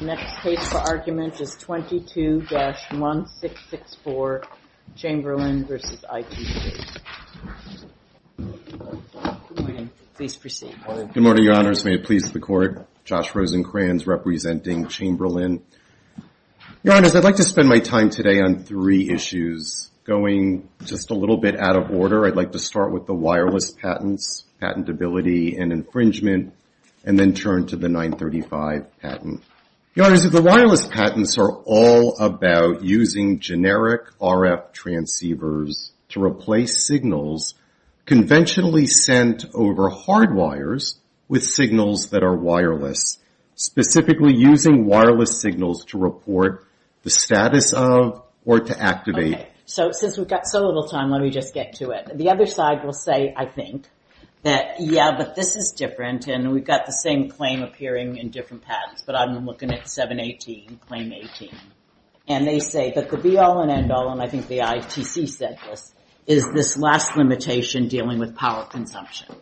Next case for argument is 22-1664 Chamberlain v. ITC. Good morning. Please proceed. Good morning, Your Honors. May it please the Court. Josh Rosenkranz, representing Chamberlain. Your Honors, I'd like to spend my time today on three issues. Going just a little bit out of order, I'd like to start with the wireless patents, patentability and infringement, and then turn to the 935 patent. Your Honors, the wireless patents are all about using generic RF transceivers to replace signals conventionally sent over hardwires with signals that are wireless, specifically using wireless signals to report the status of or to activate. Okay. Since we've got so little time, let me just get to it. The other side will say, I think, that, yeah, but this is different, and we've got the same claim appearing in different patents, but I'm looking at 718, Claim 18. And they say that the be-all and end-all, and I think the ITC said this, is this last limitation dealing with power consumption.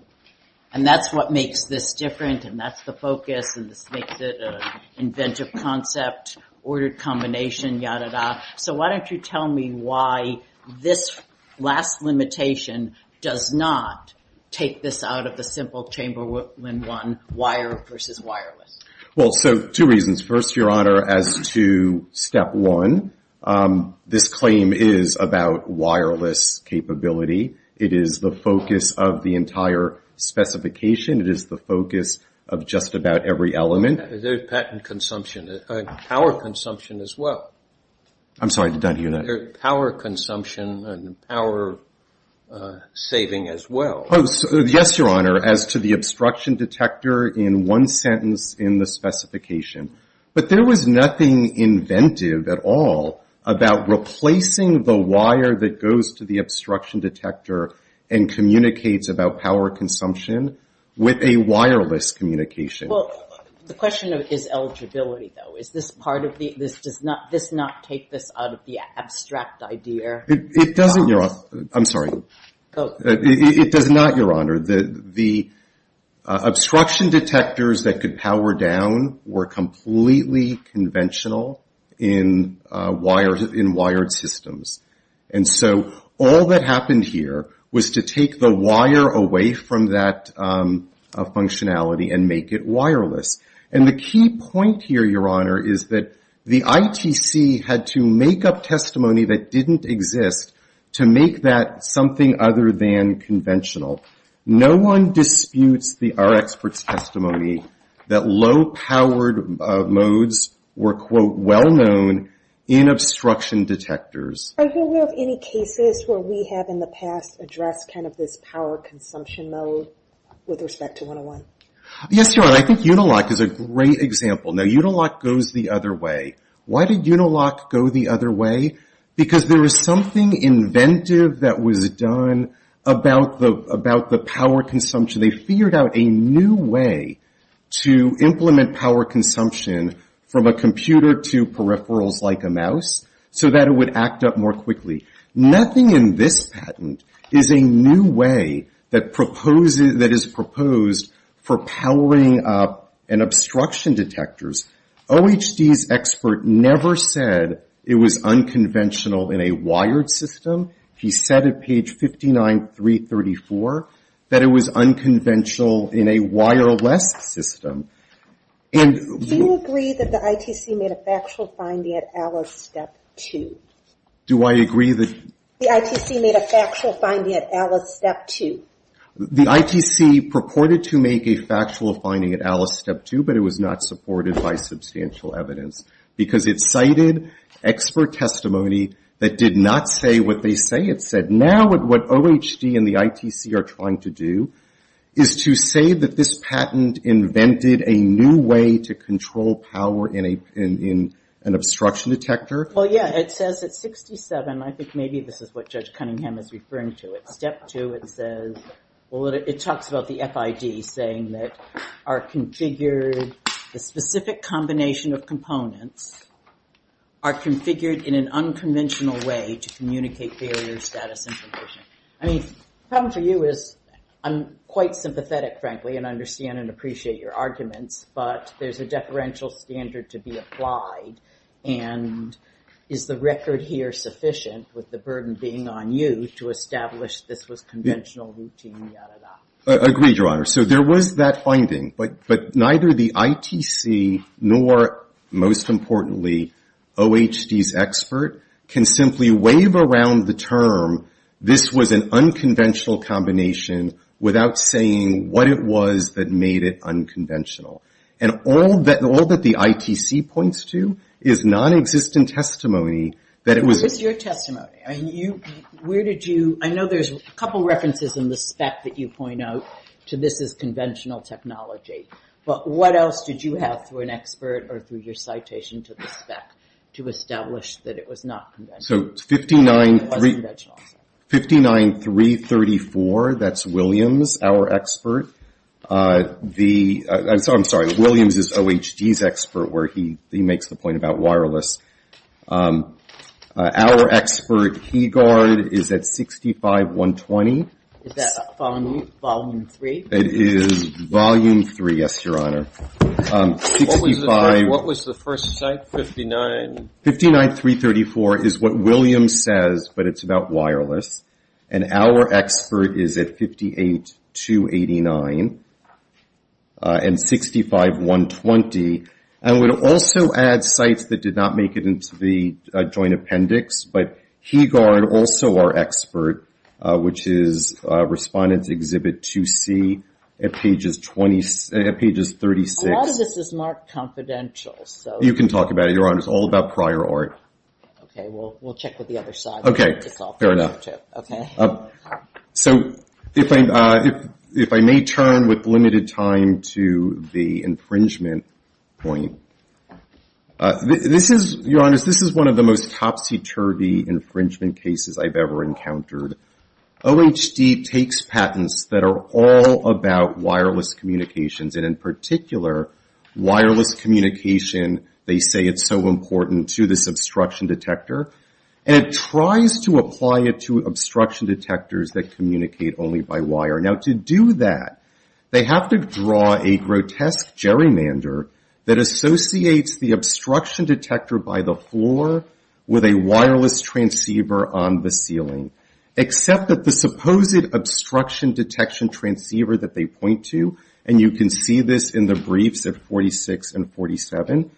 And that's what makes this different, and that's the focus, and this makes it an inventive concept, ordered combination, ya-da-da. So why don't you tell me why this last limitation does not take this out of the simple chamber when one wire versus wireless. Well, so two reasons. First, Your Honor, as to step one, this claim is about wireless capability. It is the focus of the entire specification. It is the focus of just about every element. There's patent consumption, power consumption as well. I'm sorry, did I hear that? There's power consumption and power saving as well. Yes, Your Honor, as to the obstruction detector in one sentence in the specification. But there was nothing inventive at all about replacing the wire that goes to the obstruction detector and communicates about power consumption with a wireless communication. Well, the question is eligibility, though. Does this not take this out of the abstract idea? It doesn't, Your Honor. I'm sorry. It does not, Your Honor. The obstruction detectors that could power down were completely conventional in wired systems. And so all that happened here was to take the wire away from that functionality and make it wireless. And the key point here, Your Honor, is that the ITC had to make up testimony that didn't exist to make that something other than conventional. No one disputes our expert's testimony that low-powered modes were, quote, well-known in obstruction detectors. Are you aware of any cases where we have in the past addressed kind of this power consumption mode with respect to 101? Yes, Your Honor. I think Unilock is a great example. Now, Unilock goes the other way. Why did Unilock go the other way? Because there was something inventive that was done about the power consumption. They figured out a new way to implement power consumption from a computer to peripherals like a mouse so that it would act up more quickly. Nothing in this patent is a new way that is proposed for powering up an obstruction detector. OHD's expert never said it was unconventional in a wired system. He said at page 59334 that it was unconventional in a wireless system. Do you agree that the ITC made a factual finding at Alice Step 2? Do I agree that? The ITC made a factual finding at Alice Step 2. The ITC purported to make a factual finding at Alice Step 2, but it was not supported by substantial evidence because it cited expert testimony that did not say what they say it said. Now what OHD and the ITC are trying to do is to say that this patent invented a new way to control power in an obstruction detector. Well, yeah, it says at 67, I think maybe this is what Judge Cunningham is referring to, at Step 2 it says, well, it talks about the FID saying that are configured, the specific combination of components are configured in an unconventional way to communicate failure, status, and provision. I mean, the problem for you is I'm quite sympathetic, frankly, and understand and appreciate your arguments, but there's a deferential standard to be applied, and is the record here sufficient with the burden being on you to establish this was conventional routine, yada, yada? Agreed, Your Honor. So there was that finding, but neither the ITC nor, most importantly, OHD's expert can simply wave around the term this was an unconventional combination without saying what it was that made it unconventional. And all that the ITC points to is nonexistent testimony that it was Your testimony, I know there's a couple of references in the spec that you point out to this as conventional technology, but what else did you have through an expert or through your citation to the spec to establish that it was not conventional? So 59334, that's Williams, our expert. I'm sorry, Williams is OHD's expert where he makes the point about wireless. Our expert, Hegard, is at 65120. Is that volume three? It is volume three, yes, Your Honor. What was the first site, 59? 59334 is what Williams says, but it's about wireless. And our expert is at 58289 and 65120. I would also add sites that did not make it into the joint appendix, but Hegard, also our expert, which is Respondents Exhibit 2C at pages 36. A lot of this is marked confidential. You can talk about it, Your Honor. It's all about prior art. Okay, we'll check with the other side. Okay, fair enough. So if I may turn with limited time to the infringement point, this is, Your Honor, this is one of the most topsy-turvy infringement cases I've ever encountered. OHD takes patents that are all about wireless communications, and in particular, wireless communication, they say it's so important to the obstruction detector, and it tries to apply it to obstruction detectors that communicate only by wire. Now, to do that, they have to draw a grotesque gerrymander that associates the obstruction detector by the floor with a wireless transceiver on the ceiling. Except that the supposed obstruction detection transceiver that they point to, and you can see this in the briefs at 46 and 47,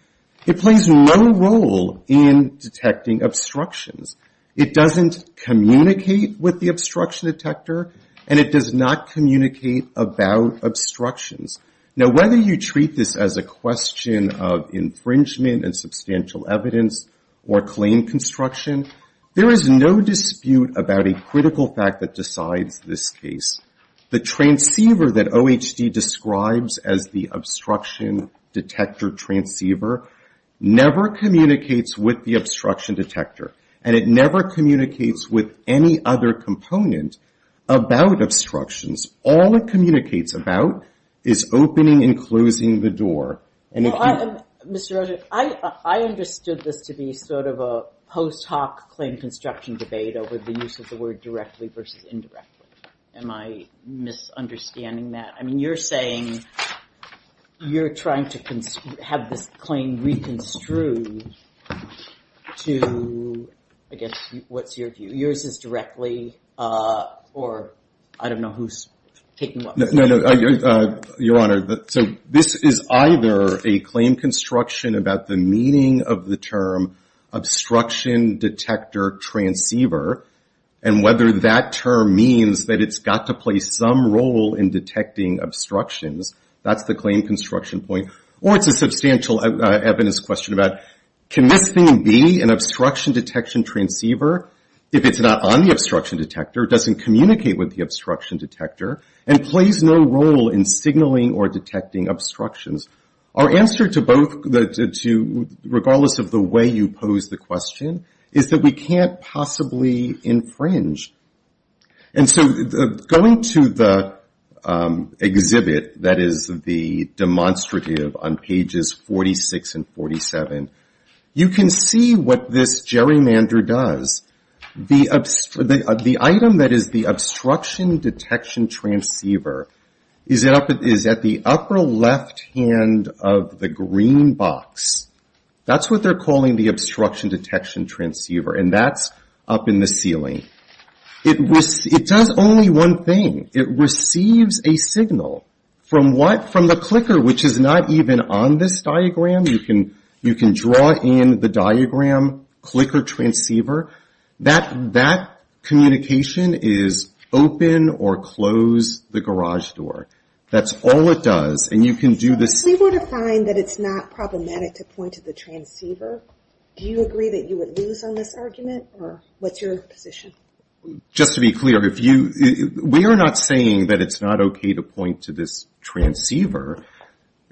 it plays no role in detecting obstructions. It doesn't communicate with the obstruction detector, and it does not communicate about obstructions. Now, whether you treat this as a question of infringement and substantial evidence or claim construction, there is no dispute about a critical fact that decides this case. The transceiver that OHD describes as the obstruction detector transceiver never communicates with the obstruction detector, and it never communicates with any other component about obstructions. All it communicates about is opening and closing the door. Well, Mr. Rogers, I understood this to be sort of a post-hoc claim construction debate over the use of the word directly versus indirectly. Am I misunderstanding that? I mean, you're saying you're trying to have this claim reconstrued to, I guess, what's your view? Yours is directly or I don't know who's taking what. No, no, your Honor. So this is either a claim construction about the meaning of the term obstruction detector transceiver, and whether that term means that it's got to play some role in detecting obstructions. That's the claim construction point. Or it's a substantial evidence question about can this thing be an obstruction detection transceiver if it's not on the obstruction detector, doesn't communicate with the obstruction detector, and plays no role in signaling or detecting obstructions. Our answer to both, regardless of the way you pose the question, is that we can't possibly infringe. And so going to the exhibit that is the demonstrative on pages 46 and 47, you can see what this gerrymander does. The item that is the obstruction detection transceiver is at the upper left hand of the green box. That's what they're calling the obstruction detection transceiver, and that's up in the ceiling. It does only one thing. It receives a signal from the clicker, which is not even on this diagram. You can draw in the diagram, clicker, transceiver. That communication is open or close the garage door. That's all it does, and you can do this. Do you agree that you would lose on this argument, or what's your position? Just to be clear, we are not saying that it's not okay to point to this transceiver,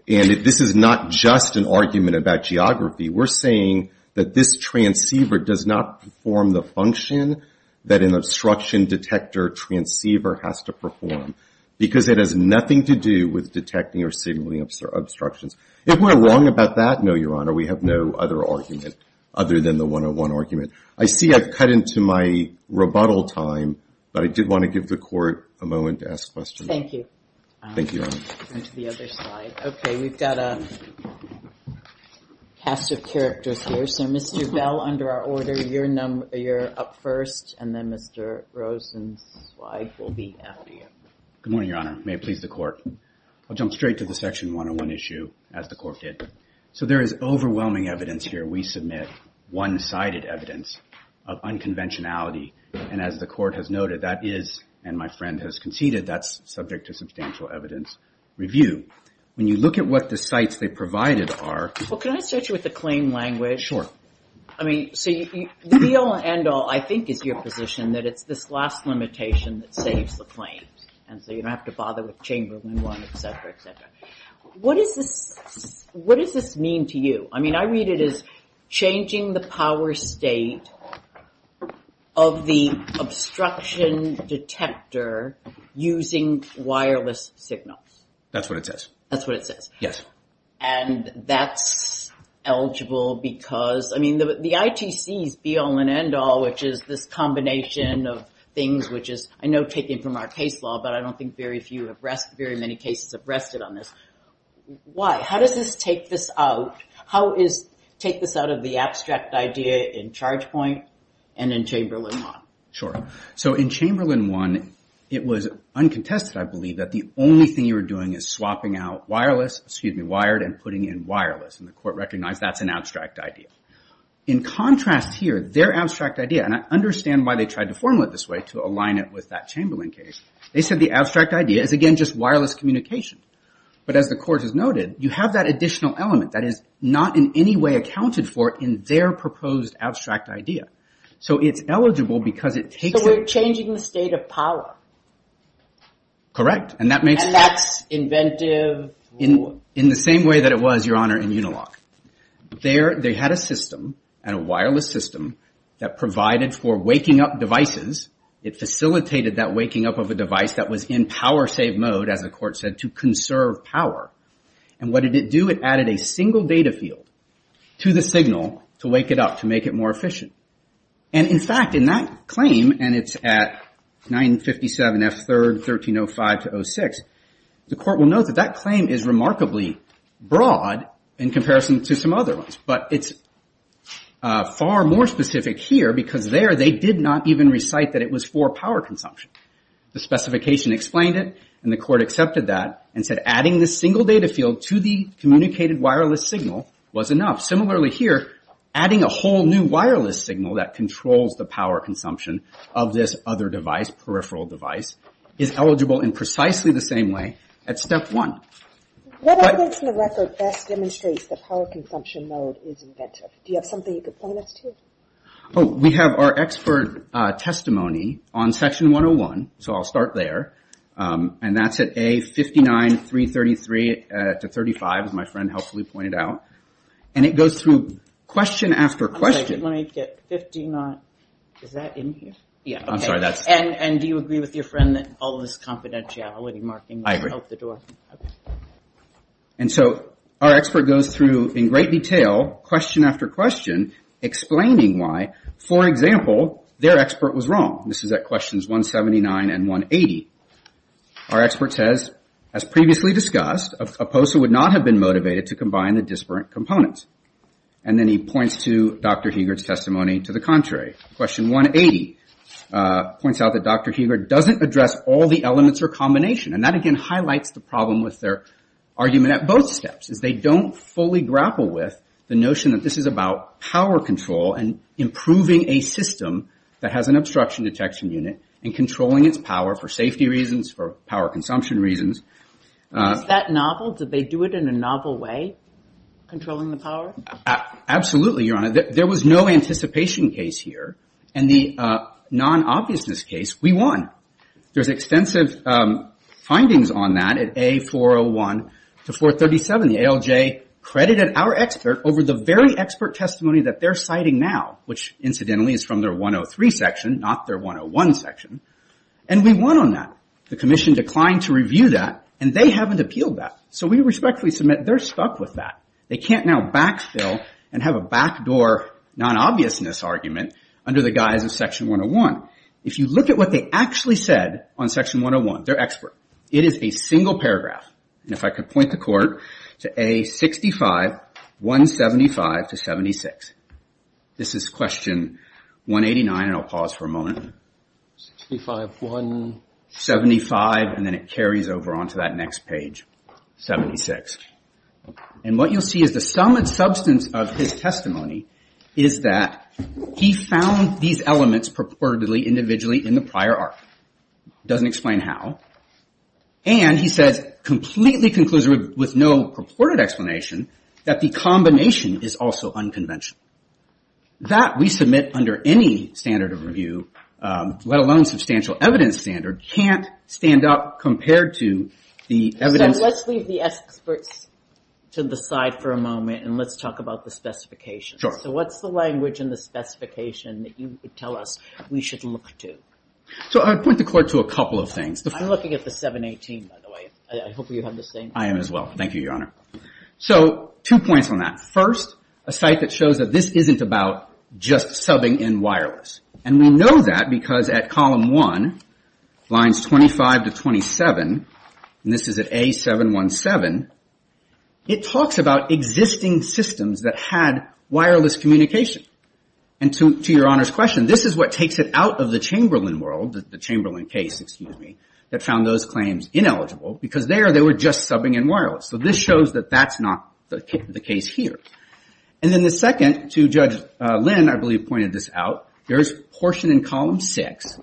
and this is not just an argument about geography. We're saying that this transceiver does not perform the function that an obstruction detector transceiver has to perform. Because it has nothing to do with detecting or signaling obstructions. If we're wrong about that, no, Your Honor, we have no other argument other than the 101 argument. I see I've cut into my rebuttal time, but I did want to give the court a moment to ask questions. Thank you. Okay, we've got a cast of characters here. So Mr. Bell, under our order, you're up first, and then Mr. Rosen's slide will be after you. Good morning, Your Honor. May it please the court. I'll jump straight to the section 101 issue, as the court did. So there is overwhelming evidence here. We submit one-sided evidence of unconventionality, and as the court has noted, that is, and my friend has conceded, that's subject to substantial evidence review. When you look at what the sites they provided are... Well, can I start you with the claim language? Sure. I mean, so the real end all, I think, is your position that it's this last limitation that saves the claims, and so you don't have to bother with Chamberlain 1, et cetera, et cetera. What does this mean to you? I mean, I read it as changing the power state of the obstruction detector using wireless signals. That's what it says. Yes. And that's eligible because, I mean, the ITC's be-all and end-all, which is this combination of things which is, I know, taken from our case law, but I don't think very many cases have rested on this. Why? How does this take this out? How does it take this out of the abstract idea in Chargepoint and in Chamberlain 1? Sure. So in Chamberlain 1, it was uncontested, I believe, that the only thing you were doing is swapping out wireless, excuse me, wired, and putting in wireless, and the court recognized that's an abstract idea. In contrast here, their abstract idea, and I understand why they tried to form it this way, to align it with that Chamberlain case, they said the abstract idea is, again, just wireless communication. But as the court has noted, you have that additional element that is not in any way accounted for in their proposed abstract idea. So it's eligible because it takes it. So we're changing the state of power. Correct. And that's inventive. In the same way that it was, Your Honor, in Unilock. They had a system, a wireless system, that provided for waking up devices. It facilitated that waking up of a device that was in power save mode, as the court said, to conserve power. And what did it do? It added a single data field to the signal to wake it up, to make it more efficient. And in fact, in that claim, and it's at 957 F3rd 1305-06, the court will note that that claim is remarkably broad in comparison to some other ones. But it's far more specific here, because there they did not even recite that it was for power consumption. The specification explained it, and the court accepted that, and said adding the single data field to the communicated wireless signal was enough. Similarly here, adding a whole new wireless signal that controls the power consumption of this other device, peripheral device, is eligible in precisely the same way at step one. What evidence in the record best demonstrates that power consumption mode is inventive? Do you have something you could point us to? We have our expert testimony on section 101, so I'll start there. And that's at A59-333-35, as my friend helpfully pointed out. And it goes through question after question. And so our expert goes through in great detail, question after question, explaining why, for example, their expert was wrong. This is at questions 179 and 180. Our expert says, as previously discussed, a POSA would not have been motivated to combine the disparate components. And then he points to Dr. Hegart's testimony to the contrary. Question 180 points out that Dr. Hegart doesn't address all the elements or combination. And that again highlights the problem with their argument at both steps, is they don't fully grapple with the notion that this is about power control and improving a system that has an obstruction detection unit and controlling its power for safety reasons, for power consumption reasons. Is that novel? Do they do it in a novel way, controlling the power? Absolutely, Your Honor. There was no anticipation case here. And the non-obviousness case, we won. There's extensive findings on that at A401-437. The ALJ credited our expert over the very expert testimony that they're citing now, which incidentally is from their 103 section, not their 101 section. And we won on that. The commission declined to review that, and they haven't appealed that. So we respectfully submit they're stuck with that. They can't now backfill and have a backdoor non-obviousness argument under the guise of section 101. If you look at what they actually said on section 101, their expert, it is a single paragraph. And if I could point the court to A65-175-76. This is question 189, and I'll pause for a moment. 65-175, and then it carries over onto that next page, 76. And what you'll see is the sum and substance of his testimony is that he found these elements purportedly individually in the prior arc. Doesn't explain how. And he says, completely conclusive with no purported explanation, that the combination is also unconventional. That we submit under any standard of review, let alone substantial evidence standard, can't stand up compared to the evidence. So let's leave the experts to the side for a moment, and let's talk about the specifications. So what's the language in the specification that you would tell us we should look to? So I would point the court to a couple of things. I'm looking at the 718, by the way. I hope you have the same. I am as well. Thank you, Your Honor. So two points on that. First, a site that shows that this isn't about just subbing in wireless. And we know that because at column 1, lines 25 to 27, and this is at A717, it talks about existing systems that had wireless communication. And to Your Honor's question, this is what takes it out of the Chamberlain world, the Chamberlain case, excuse me, that found those claims ineligible, because there, they were just subbing in wireless. So this shows that that's not the case here. And then the second, to Judge Lynn, I believe, pointed this out, there is portion in column 6,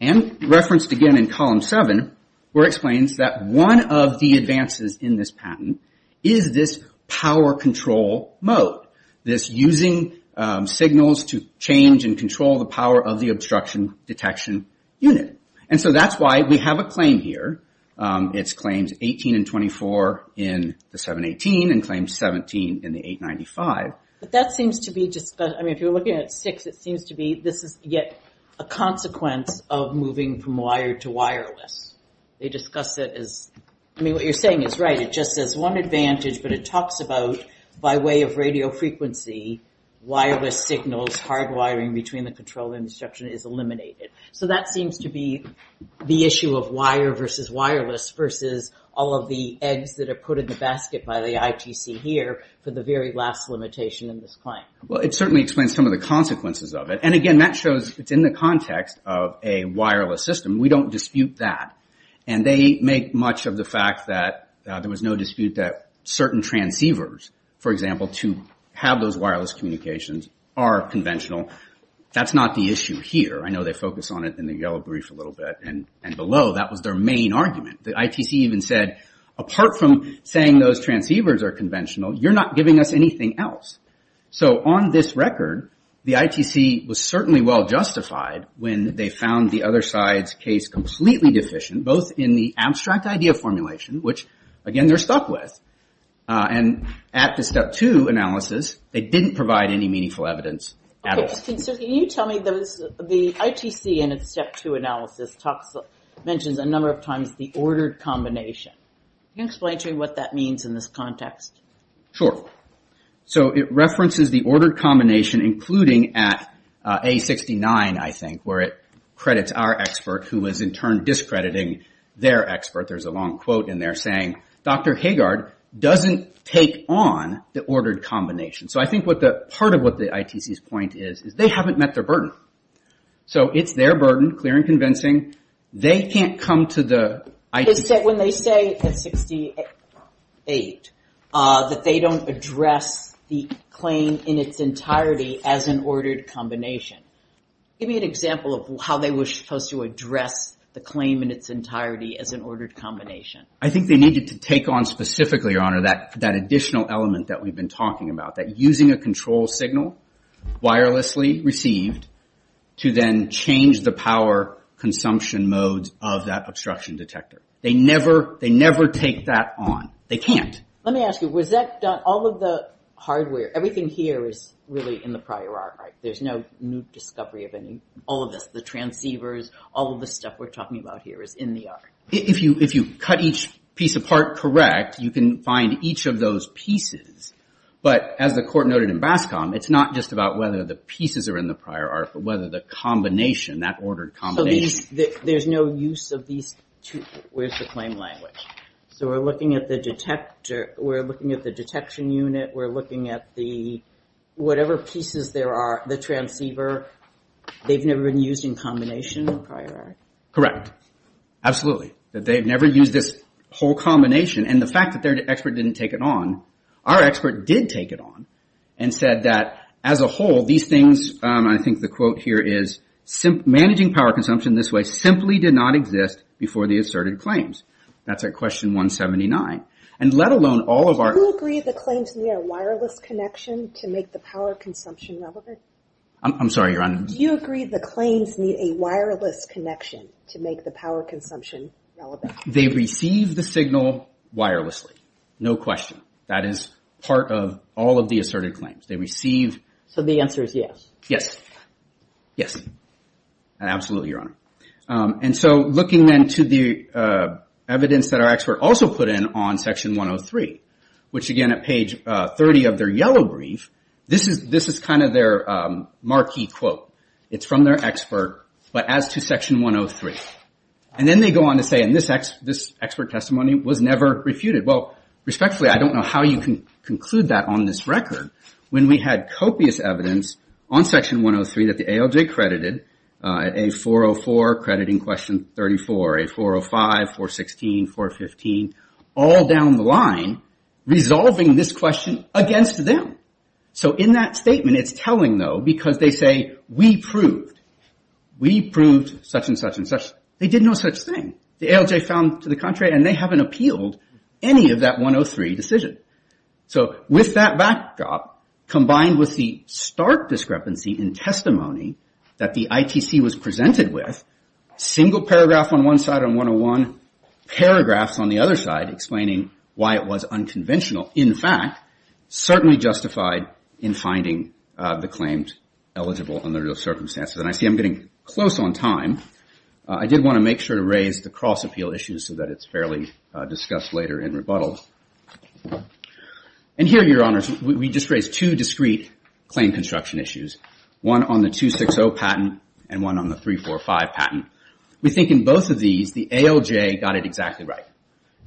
and referenced again in column 7, where it explains that one of the advances in this patent is this power control mode. This using signals to change and control the power of the obstruction detection unit. And so that's why we have a claim here. It's claims 18 and 24 in the 718, and claims 17 in the 895. But that seems to be just, I mean, if you're looking at 6, it seems to be this is yet a consequence of moving from wired to wireless. They discuss it as, I mean, what you're saying is right, it just says one advantage, but it talks about by way of radio frequency, wireless signals, hard wiring between the control and obstruction is eliminated. So that seems to be the issue of wire versus wireless versus all of the eggs that are put in the basket by the ITC here, for the very last limitation in this claim. Well, it certainly explains some of the consequences of it, and again, that shows it's in the context of a wireless system. We don't dispute that, and they make much of the fact that there was no dispute that certain transceivers, for example, to have those wireless communications are conventional. That's not the issue here. I know they focus on it in the yellow brief a little bit, and below, that was their main argument. The ITC even said, apart from saying those transceivers are conventional, you're not giving us anything else. On this record, the ITC was certainly well justified when they found the other side's case completely deficient, both in the abstract idea formulation, which, again, they're stuck with, and at the step two analysis, they didn't provide any meaningful evidence at all. Can you tell me, the ITC in its step two analysis mentions a number of times the ordered combination. Can you explain to me what that means in this context? Sure. It references the ordered combination, including at A69, I think, where it credits our expert, who is in turn discrediting their expert. There's a long quote in there saying, Dr. Hagard doesn't take on the ordered combination. I think part of what the ITC's point is, is they haven't met their burden. It's their burden, clear and convincing. They can't come to the ITC. When they say at 68, that they don't address the claim in its entirety as an ordered combination, give me an example of how they were supposed to address the claim in its entirety as an ordered combination. I think they needed to take on specifically, Your Honor, that additional element that we've been talking about, that using a control signal, wirelessly received, to then change the power consumption modes of that obstruction detector. They never take that on. They can't. Let me ask you, was that done, all of the hardware, everything here is really in the prior art, right? There's no new discovery of any, all of this, the transceivers, all of the stuff we're talking about here is in the art. If you cut each piece apart correct, you can find each of those pieces. But as the court noted in Bascom, it's not just about whether the pieces are in the prior art, but whether the combination, that ordered combination. There's no use of these two, where's the claim language? We're looking at the detection unit, we're looking at the, whatever pieces there are, the transceiver, they've never been used in combination in the prior art? Correct. Absolutely. They've never used this whole combination. And the fact that their expert didn't take it on, our expert did take it on, and said that as a whole, these things, I think the quote here is, managing power consumption this way simply did not exist before the asserted claims. That's at question 179. And let alone all of our... Do you agree the claims need a wireless connection to make the power consumption relevant? I'm sorry, Your Honor. Do you agree the claims need a wireless connection to make the power consumption relevant? They receive the signal wirelessly. No question. That is part of all of the asserted claims. So the answer is yes? Yes. Yes. Absolutely, Your Honor. And so looking then to the evidence that our expert also put in on section 103, which again at page 30 of their yellow brief, this is kind of their marquee quote. It's from their expert, but as to section 103. And then they go on to say, and this expert testimony was never refuted. Well, respectfully, I don't know how you can conclude that on this record when we had copious evidence on section 103 that the ALJ credited a 404 crediting question 34, a 405, 416, 415, all down the line resolving this question against them. So in that statement it's telling, though, because they say, we proved. We proved such and such and such. They did no such thing. The ALJ found to the contrary and they haven't appealed any of that 103 decision. So with that backdrop, combined with the stark discrepancy in testimony that the ITC was presented with, single paragraph on one side and 101 paragraphs on the other side explaining why it was unconventional. In fact, certainly justified in finding the claims eligible under those circumstances. And I see I'm getting close on time. I did want to make sure to raise the cross-appeal issues so that it's fairly discussed later in rebuttal. And here, Your Honors, we just raised two discrete claim construction issues. One on the 260 patent and one on the 345 patent. We think in both of these the ALJ got it exactly right,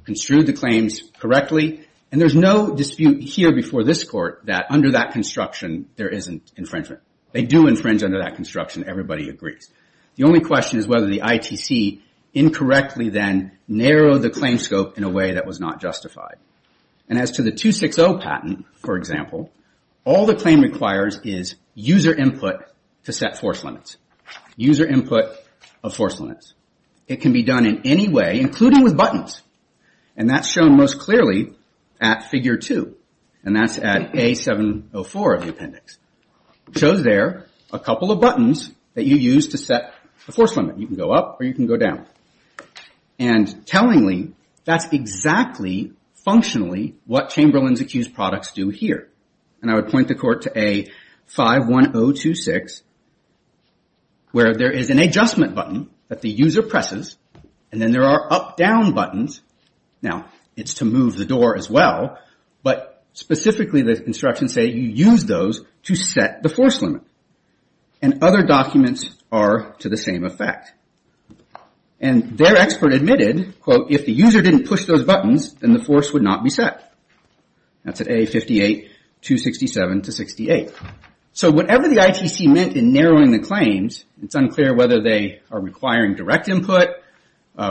construed the claims correctly. And there's no dispute here before this court that under that construction there isn't infringement. They do infringe under that construction. Everybody agrees. The only question is whether the ITC incorrectly then narrowed the claim scope in a way that was not justified. And as to the 260 patent, for example, all the claim requires is user input to set force limits. User input of force limits. It can be done in any way, including with buttons. And that's shown most clearly at Figure 2. And that's at A704 of the appendix. It shows there a couple of buttons that you use to set the force limit. You can go up or you can go down. And tellingly, that's exactly functionally what Chamberlain's accused products do here. And I would point the court to A51026 where there is an adjustment button that the user presses. And then there are up-down buttons. Now, it's to move the door as well, but specifically the instructions say you use those to set the force limit. And other documents are to the same effect. And their expert admitted, quote, if the user didn't push those buttons, then the force would not be set. That's at A58267-68. So whatever the ITC meant in narrowing the claims, it's unclear whether they are requiring direct input,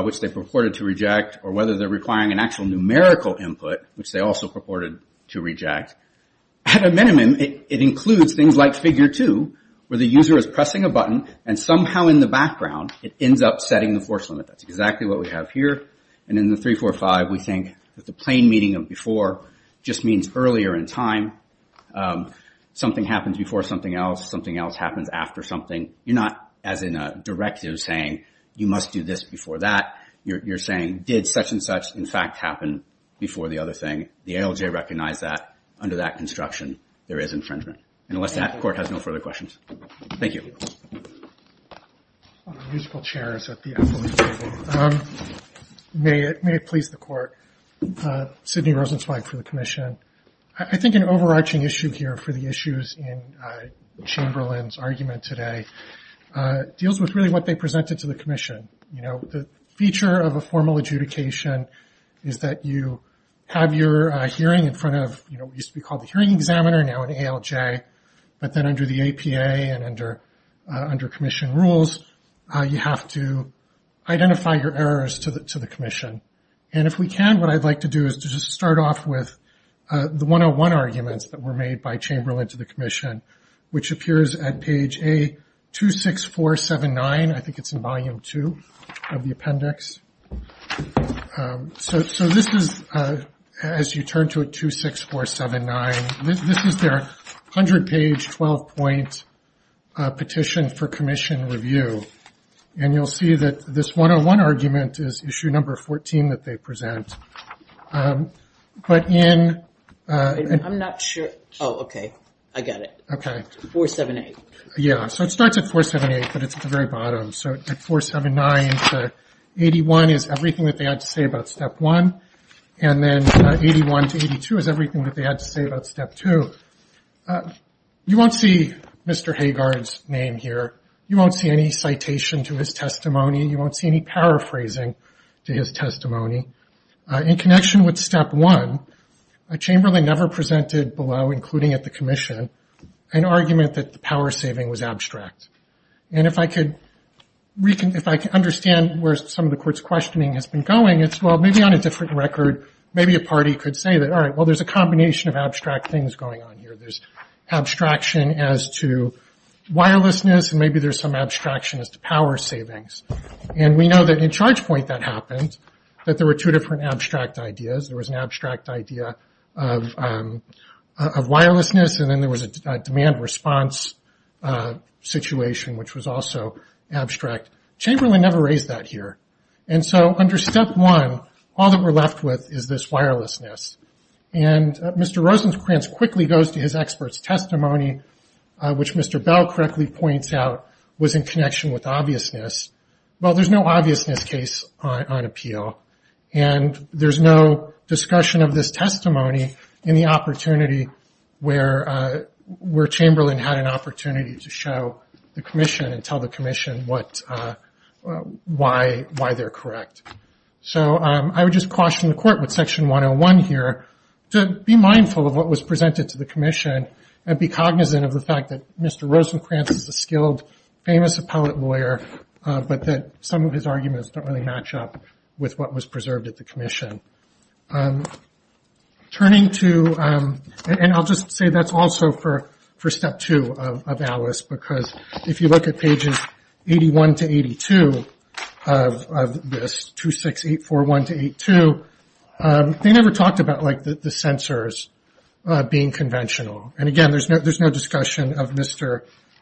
which they purported to reject, or whether they are requiring an actual numerical input, which they also purported to reject. At a minimum, it includes things like Figure 2, where the user is pressing a button and somehow in the background, it ends up setting the force limit. That's exactly what we have here. And in the 345, we think that the plain meaning of before just means earlier in time. Something happens before something else. Something else happens after something. You're not, as in a directive, saying you must do this before that. You're saying did such and such in fact happen before the other thing. The ALJ recognized that under that construction there is infringement. And unless that court has no further questions. Thank you. May it please the court. Sidney Rosenzweig for the commission. I think an overarching issue here for the issues in Chamberlain's argument today deals with really what they presented to the commission. The feature of a formal adjudication is that you have your hearing in front of, used to be called the hearing examiner, now an ALJ. But then under the APA and under commission rules, you have to identify your errors to the commission. And if we can, what I'd like to do is to just start off with the 101 arguments that were made by Chamberlain to the commission, which appears at page A26479. I think it's in Volume 2 of the appendix. So this is, as you turn to it, 26479. This is their 100-page, 12-point petition for commission review. And you'll see that this 101 argument is issue number 14 that they present. But in... Yeah, so it starts at 478, but it's at the very bottom. 81 is everything that they had to say about Step 1, and then 81 to 82 is everything that they had to say about Step 2. You won't see Mr. Hagard's name here. You won't see any citation to his testimony. You won't see any paraphrasing to his testimony. In connection with Step 1, Chamberlain never presented below, including at the commission, an argument that the power saving was abstract. And if I could understand where some of the court's questioning has been going, it's, well, maybe on a different record, maybe a party could say that, all right, well, there's a combination of abstract things going on here. There's abstraction as to wirelessness, and maybe there's some abstraction as to power savings. And we know that in Chargepoint that happened, that there were two different abstract ideas. There was an abstract idea of wirelessness, and then there was a demand response situation, which was also abstract. Chamberlain never raised that here. And so under Step 1, all that we're left with is this wirelessness. And Mr. Rosenkranz quickly goes to his expert's testimony, which Mr. Bell correctly points out was in connection with obviousness. Well, there's no obviousness case on appeal, and there's no discussion of this testimony in the opportunity where Chamberlain had an opportunity to show the commission and tell the commission why they're correct. So I would just caution the court with Section 101 here to be mindful of what was presented to the commission and be cognizant of the fact that Mr. Rosenkranz is a skilled, famous appellate lawyer, but that some of his arguments don't really match up with what was preserved at the commission. Turning to, and I'll just say that's also for Step 2 of ALICE, because if you look at pages 81 to 82 of this, 26841 to 82, they never talked about, like, the sensors being conventional. And again, there's no discussion of Mr.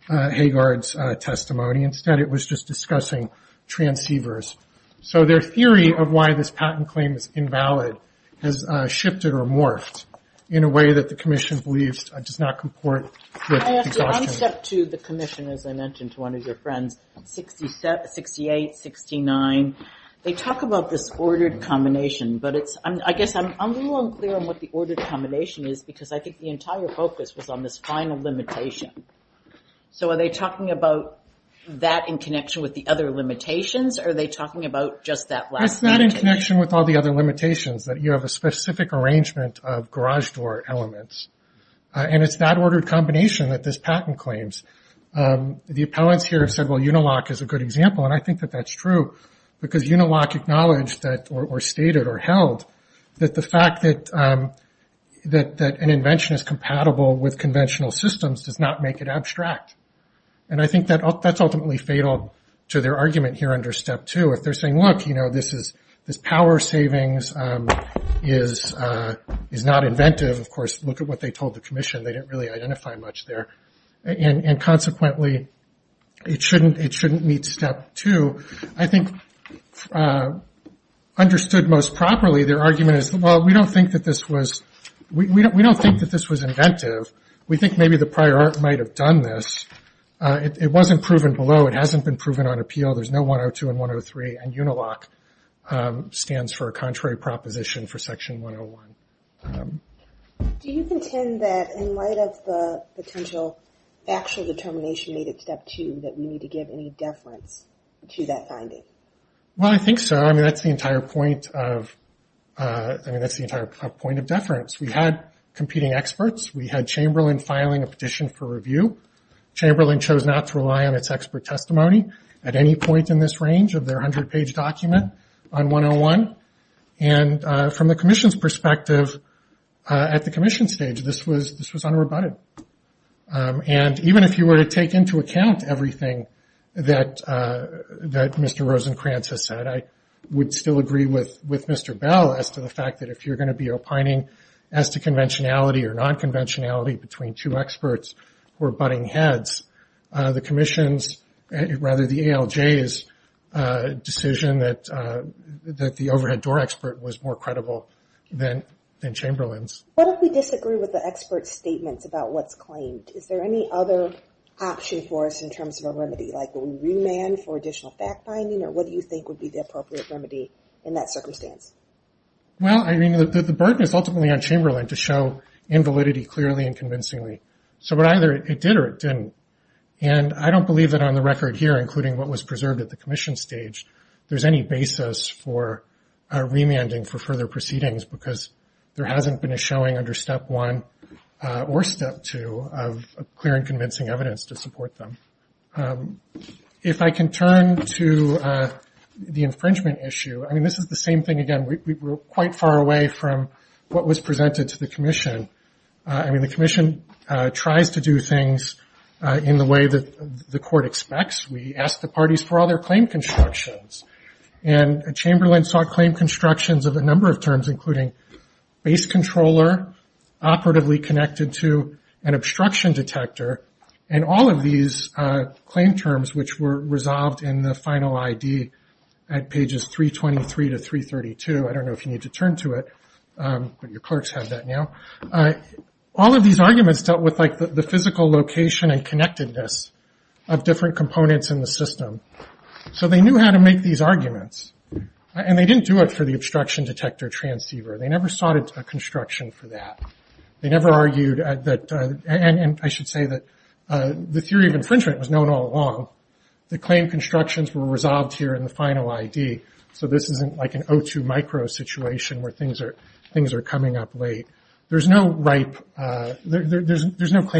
Hagard's testimony. Instead, it was just discussing transceivers. So their theory of why this patent claim is invalid has shifted or morphed in a way that the commission believes does not comport with exhaustion. I have to unstep to the commission, as I mentioned to one of your friends, 68, 69. They talk about this ordered combination, but I guess I'm a little unclear on what the ordered combination is, because I think the entire focus was on this final limitation. So are they talking about that in connection with the other limitations, or are they talking about just that last limitation? It's not in connection with all the other limitations, that you have a specific arrangement of garage door elements. And it's that ordered combination that this patent claims. The appellants here have said, well, Unilock is a good example, and I think that that's true, because Unilock acknowledged or stated or held that the fact that an invention is compatible with conventional systems does not make it abstract. And I think that's ultimately fatal to their argument here under step two. If they're saying, look, this power savings is not inventive, of course, look at what they told the commission. They didn't really identify much there. And consequently, it shouldn't meet step two. I think understood most properly, their argument is, well, we don't think that this was inventive. We think maybe the prior art might have done this. It wasn't proven below. It hasn't been proven on appeal. There's no 102 and 103, and Unilock stands for a contrary proposition for section 101. Do you contend that in light of the potential actual determination made at step two that we need to give any deference to that finding? Well, I think so. I mean, that's the entire point of deference. We had competing experts. We had Chamberlain filing a petition for review. Chamberlain chose not to rely on its expert testimony at any point in this range of their 100-page document on 101. And from the commission's perspective at the commission stage, this was unrebutted. And even if you were to take into account everything that Mr. Rosenkranz has said, I would still agree with Mr. Bell as to the fact that if you're going to be opining, as to conventionality or non-conventionality between two experts who are butting heads, the ALJ's decision that the overhead door expert was more credible than Chamberlain's. What if we disagree with the expert's statements about what's claimed? Is there any other option for us in terms of a remedy, like will we remand for additional fact-finding? Or what do you think would be the appropriate remedy in that circumstance? Well, I mean, the burden is ultimately on Chamberlain to show invalidity clearly and convincingly. So either it did or it didn't. And I don't believe that on the record here, including what was preserved at the commission stage, there's any basis for remanding for further proceedings, because there hasn't been a showing under Step 1 or Step 2 of clear and convincing evidence to support them. If I can turn to the infringement issue, I mean, this is the same thing again. We're quite far away from what was presented to the commission. I mean, the commission tries to do things in the way that the court expects. We ask the parties for all their claim constructions. And Chamberlain sought claim constructions of a number of terms, including base controller, operatively connected to an obstruction detector, and all of these claim terms, which were resolved in the final ID at pages 323 to 332. I don't know if you need to turn to it, but your clerks have that now. All of these arguments dealt with, like, the physical location and connectedness of different components in the system. So they knew how to make these arguments. And they didn't do it for the obstruction detector transceiver. They never sought a construction for that. They never argued that – and I should say that the theory of infringement was known all along. The claim constructions were resolved here in the final ID, so this isn't like an O2 micro situation where things are coming up late. There's no claim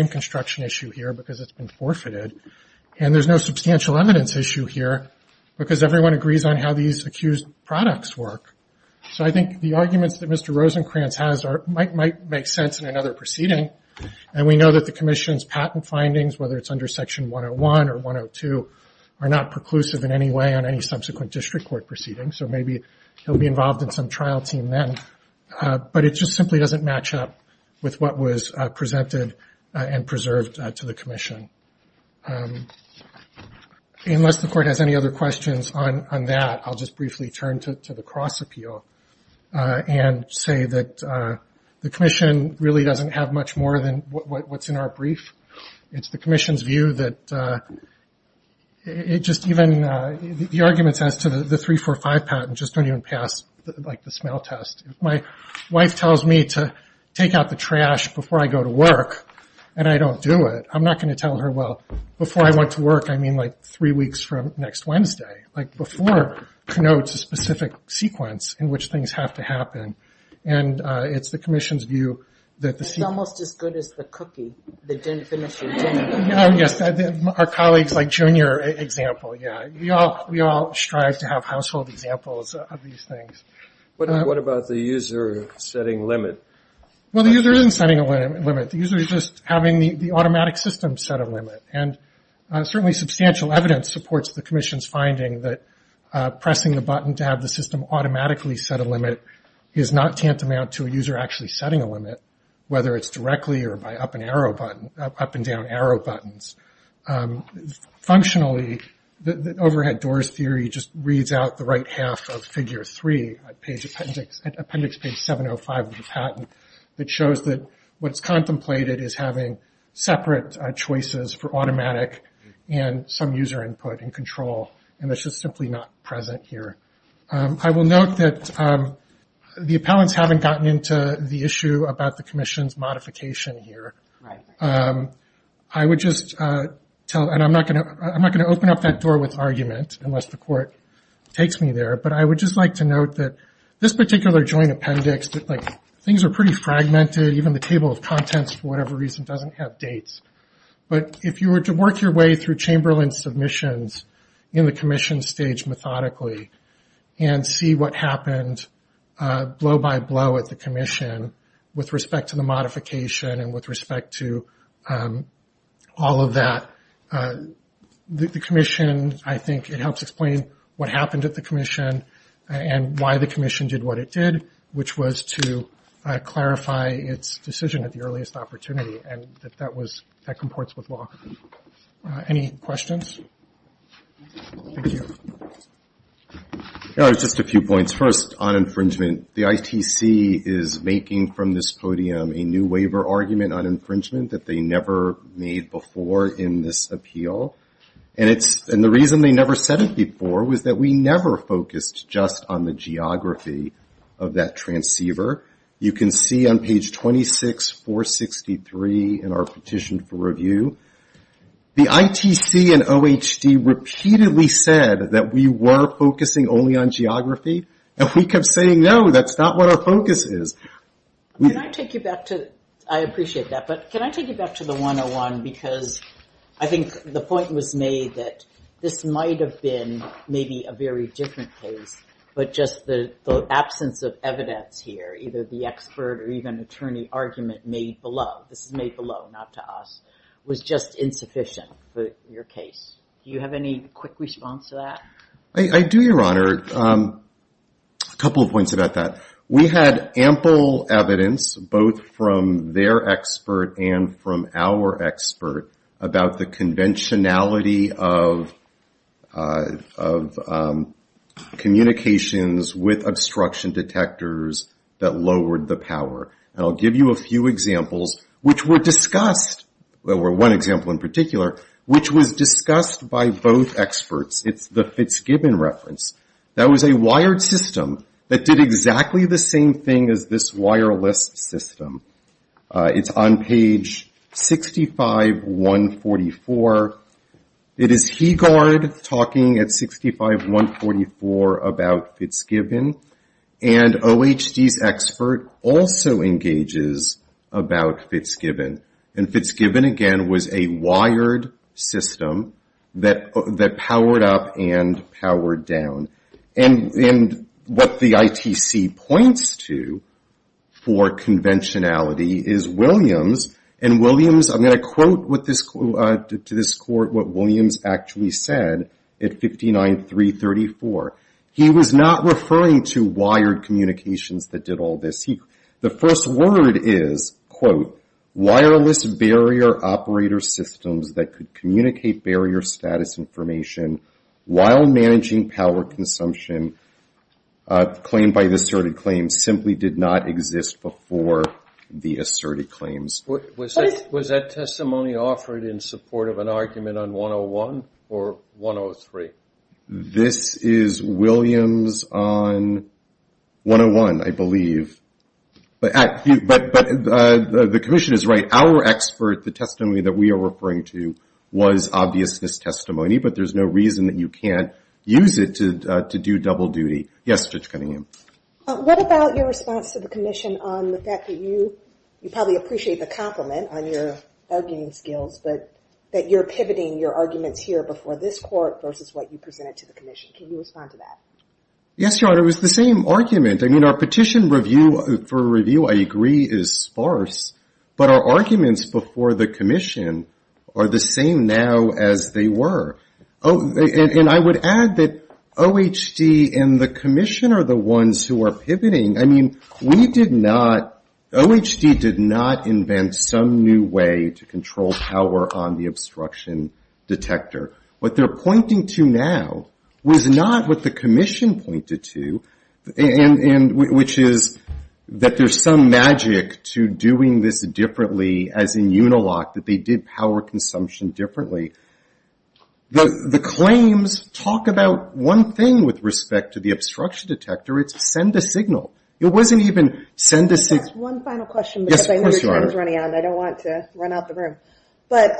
construction issue here because it's been forfeited. And there's no substantial evidence issue here because everyone agrees on how these accused products work. So I think the arguments that Mr. Rosenkranz has might make sense in another proceeding. And we know that the commission's patent findings, whether it's under Section 101 or 102, are not preclusive in any way on any subsequent district court proceedings. So maybe he'll be involved in some trial team then. But it just simply doesn't match up with what was presented and preserved to the commission. Unless the court has any other questions on that, I'll just briefly turn to the cross-appeal and say that the commission really doesn't have much more than what's in our brief. It's the commission's view that it just – even the arguments as to the 345 claim and the patent just don't even pass the smell test. If my wife tells me to take out the trash before I go to work and I don't do it, I'm not going to tell her, well, before I went to work I mean like three weeks from next Wednesday. Before connotes a specific sequence in which things have to happen. And it's the commission's view that the – Yes, our colleagues like Junior example, yeah. We all strive to have household examples of these things. What about the user setting limit? Well, the user isn't setting a limit. The user is just having the automatic system set a limit. And certainly substantial evidence supports the commission's finding that pressing the button to have the system automatically set a limit is not tantamount to a user actually setting a limit, whether it's directly or by up and down arrow buttons. Functionally, the overhead doors theory just reads out the right half of figure 3, appendix page 705 of the patent, that shows that what's contemplated is having separate choices for automatic and some user input and control, and that's just simply not present here. I will note that the appellants haven't gotten into the issue about the commission's modification here. I would just tell, and I'm not going to open up that door with argument unless the court takes me there, but I would just like to note that this particular joint appendix, like things are pretty fragmented, even the table of contents for whatever reason doesn't have dates. But if you were to work your way through Chamberlain's submissions in the commission stage methodically and see what happened blow by blow at the commission with respect to the modification and with respect to all of that, the commission, I think, it helps explain what happened at the commission and why the commission did what it did, which was to clarify its decision at the earliest opportunity, and that that was, that comports with law. Any questions? Thank you. Just a few points. First, on infringement. The ITC is making from this podium a new waiver argument on infringement that they never made before in this appeal. And the reason they never said it before was that we never focused just on the geography of that transceiver. You can see on page 26463 in our petition for review, the ITC and OHD repeatedly said that we were focusing only on geography, and we kept saying, no, that's not what our focus is. Can I take you back to, I appreciate that, but can I take you back to the 101, because I think the point was made that this might have been maybe a very different case, but just the absence of evidence here, either the expert or even attorney argument made below, this is made below, not to us, was just insufficient for your case. Do you have any quick response to that? I do, Your Honor. A couple of points about that. We had ample evidence, both from their expert and from our expert, about the conventionality of communications with obstruction detectors that lowered the power. And I'll give you a few examples which were discussed, or one example in particular, which was discussed by both experts. It's the Fitzgibbon reference. That was a wired system that did exactly the same thing as this wireless system. It's on page 65-144. It is Hegard talking at 65-144 about Fitzgibbon, and OHD's expert also engages about Fitzgibbon. And Fitzgibbon, again, was a wired system that powered up and powered down. And what the ITC points to for conventionality is Williams, and Williams, I'm going to quote to this court what Williams actually said at 59-334. He was not referring to wired communications that did all this. The first word is, quote, that could communicate barrier status information while managing power consumption claimed by the asserted claims simply did not exist before the asserted claims. Was that testimony offered in support of an argument on 101 or 103? This is Williams on 101, I believe. But the commission is right. Our expert, the testimony that we are referring to was obviousness testimony, but there's no reason that you can't use it to do double duty. Yes, Judge Cunningham. What about your response to the commission on the fact that you probably appreciate the compliment on your arguing skills, but that you're pivoting your arguments here before this court versus what you presented to the commission? Can you respond to that? Yes, Your Honor, it was the same argument. I mean, our petition for review, I agree, is sparse, but our arguments before the commission are the same now as they were. And I would add that OHD and the commission are the ones who are pivoting. I mean, we did not, OHD did not invent some new way to control power on the obstruction detector. What they're pointing to now was not what the commission pointed to, which is that there's some magic to doing this differently as in Unilock, that they did power consumption differently. The claims talk about one thing with respect to the obstruction detector. It's send a signal. It wasn't even send a signal. That's one final question because I know your time is running out and I don't want to run out the room. But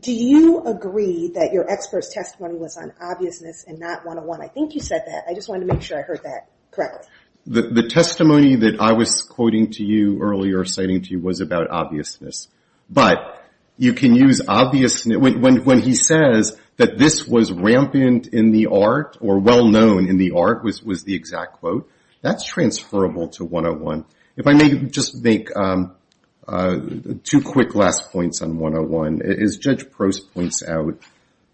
do you agree that your expert's testimony was on obviousness and not 101? I think you said that. I just wanted to make sure I heard that correctly. The testimony that I was quoting to you earlier, citing to you, was about obviousness. But you can use obvious when he says that this was rampant in the art or well-known in the art was the exact quote. That's transferable to 101. If I may just make two quick last points on 101. As Judge Prost points out,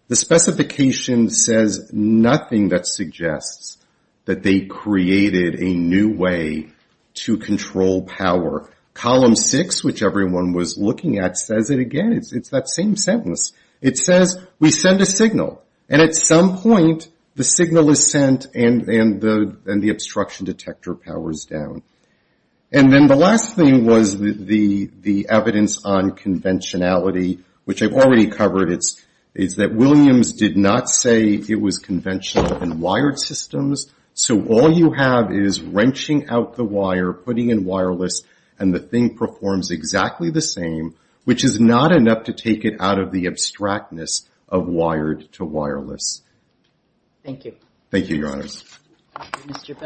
the specification says nothing that suggests that they created a new way to control power. Column six, which everyone was looking at, says it again. It's that same sentence. It says we send a signal, and at some point the signal is sent and the obstruction detector powers down. And then the last thing was the evidence on conventionality, which I've already covered. It's that Williams did not say it was conventional in wired systems. So all you have is wrenching out the wire, putting in wireless, and the thing performs exactly the same, which is not enough to take it out of the abstractness of wired to wireless. Thank you, Your Honors. Thank you, Your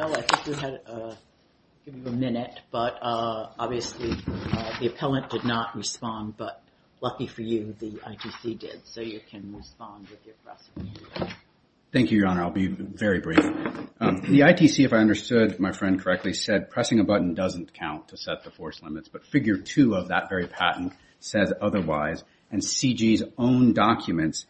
Honor. I'll be very brief. The ITC, if I understood my friend correctly, said pressing a button doesn't count to set the force limits. But figure two of that very patent says otherwise. And CG's own documents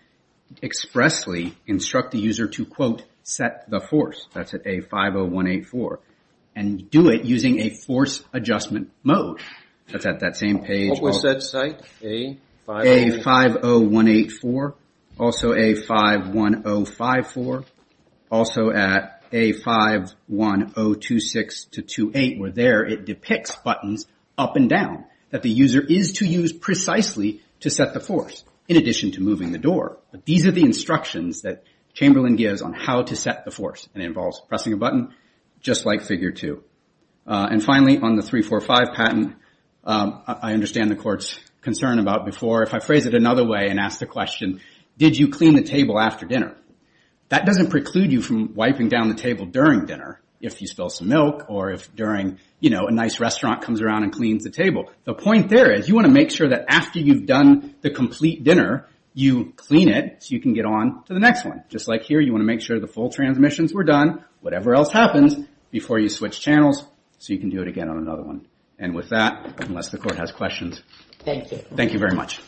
expressly instruct the user to, quote, set the force. That's at A50184. And do it using a force adjustment mode. That's at that same page. A50184. Also A51054. Also at A51026-28, where there it depicts buttons up and down, that the user is to use precisely to set the force, in addition to moving the door. But these are the instructions that Chamberlain gives on how to set the force. And it involves pressing a button, just like figure two. And finally, on the 345 patent, I understand the Court's concern about before. If I phrase it another way and ask the question, did you clean the table after dinner? That doesn't preclude you from wiping down the table during dinner if you spill some milk or if during, you know, a nice restaurant comes around and cleans the table. The point there is you want to make sure that after you've done the complete dinner, you clean it so you can get on to the next one. Just like here, you want to make sure the full transmissions were done, whatever else happens, before you switch channels so you can do it again on another one. And with that, unless the Court has questions, thank you very much.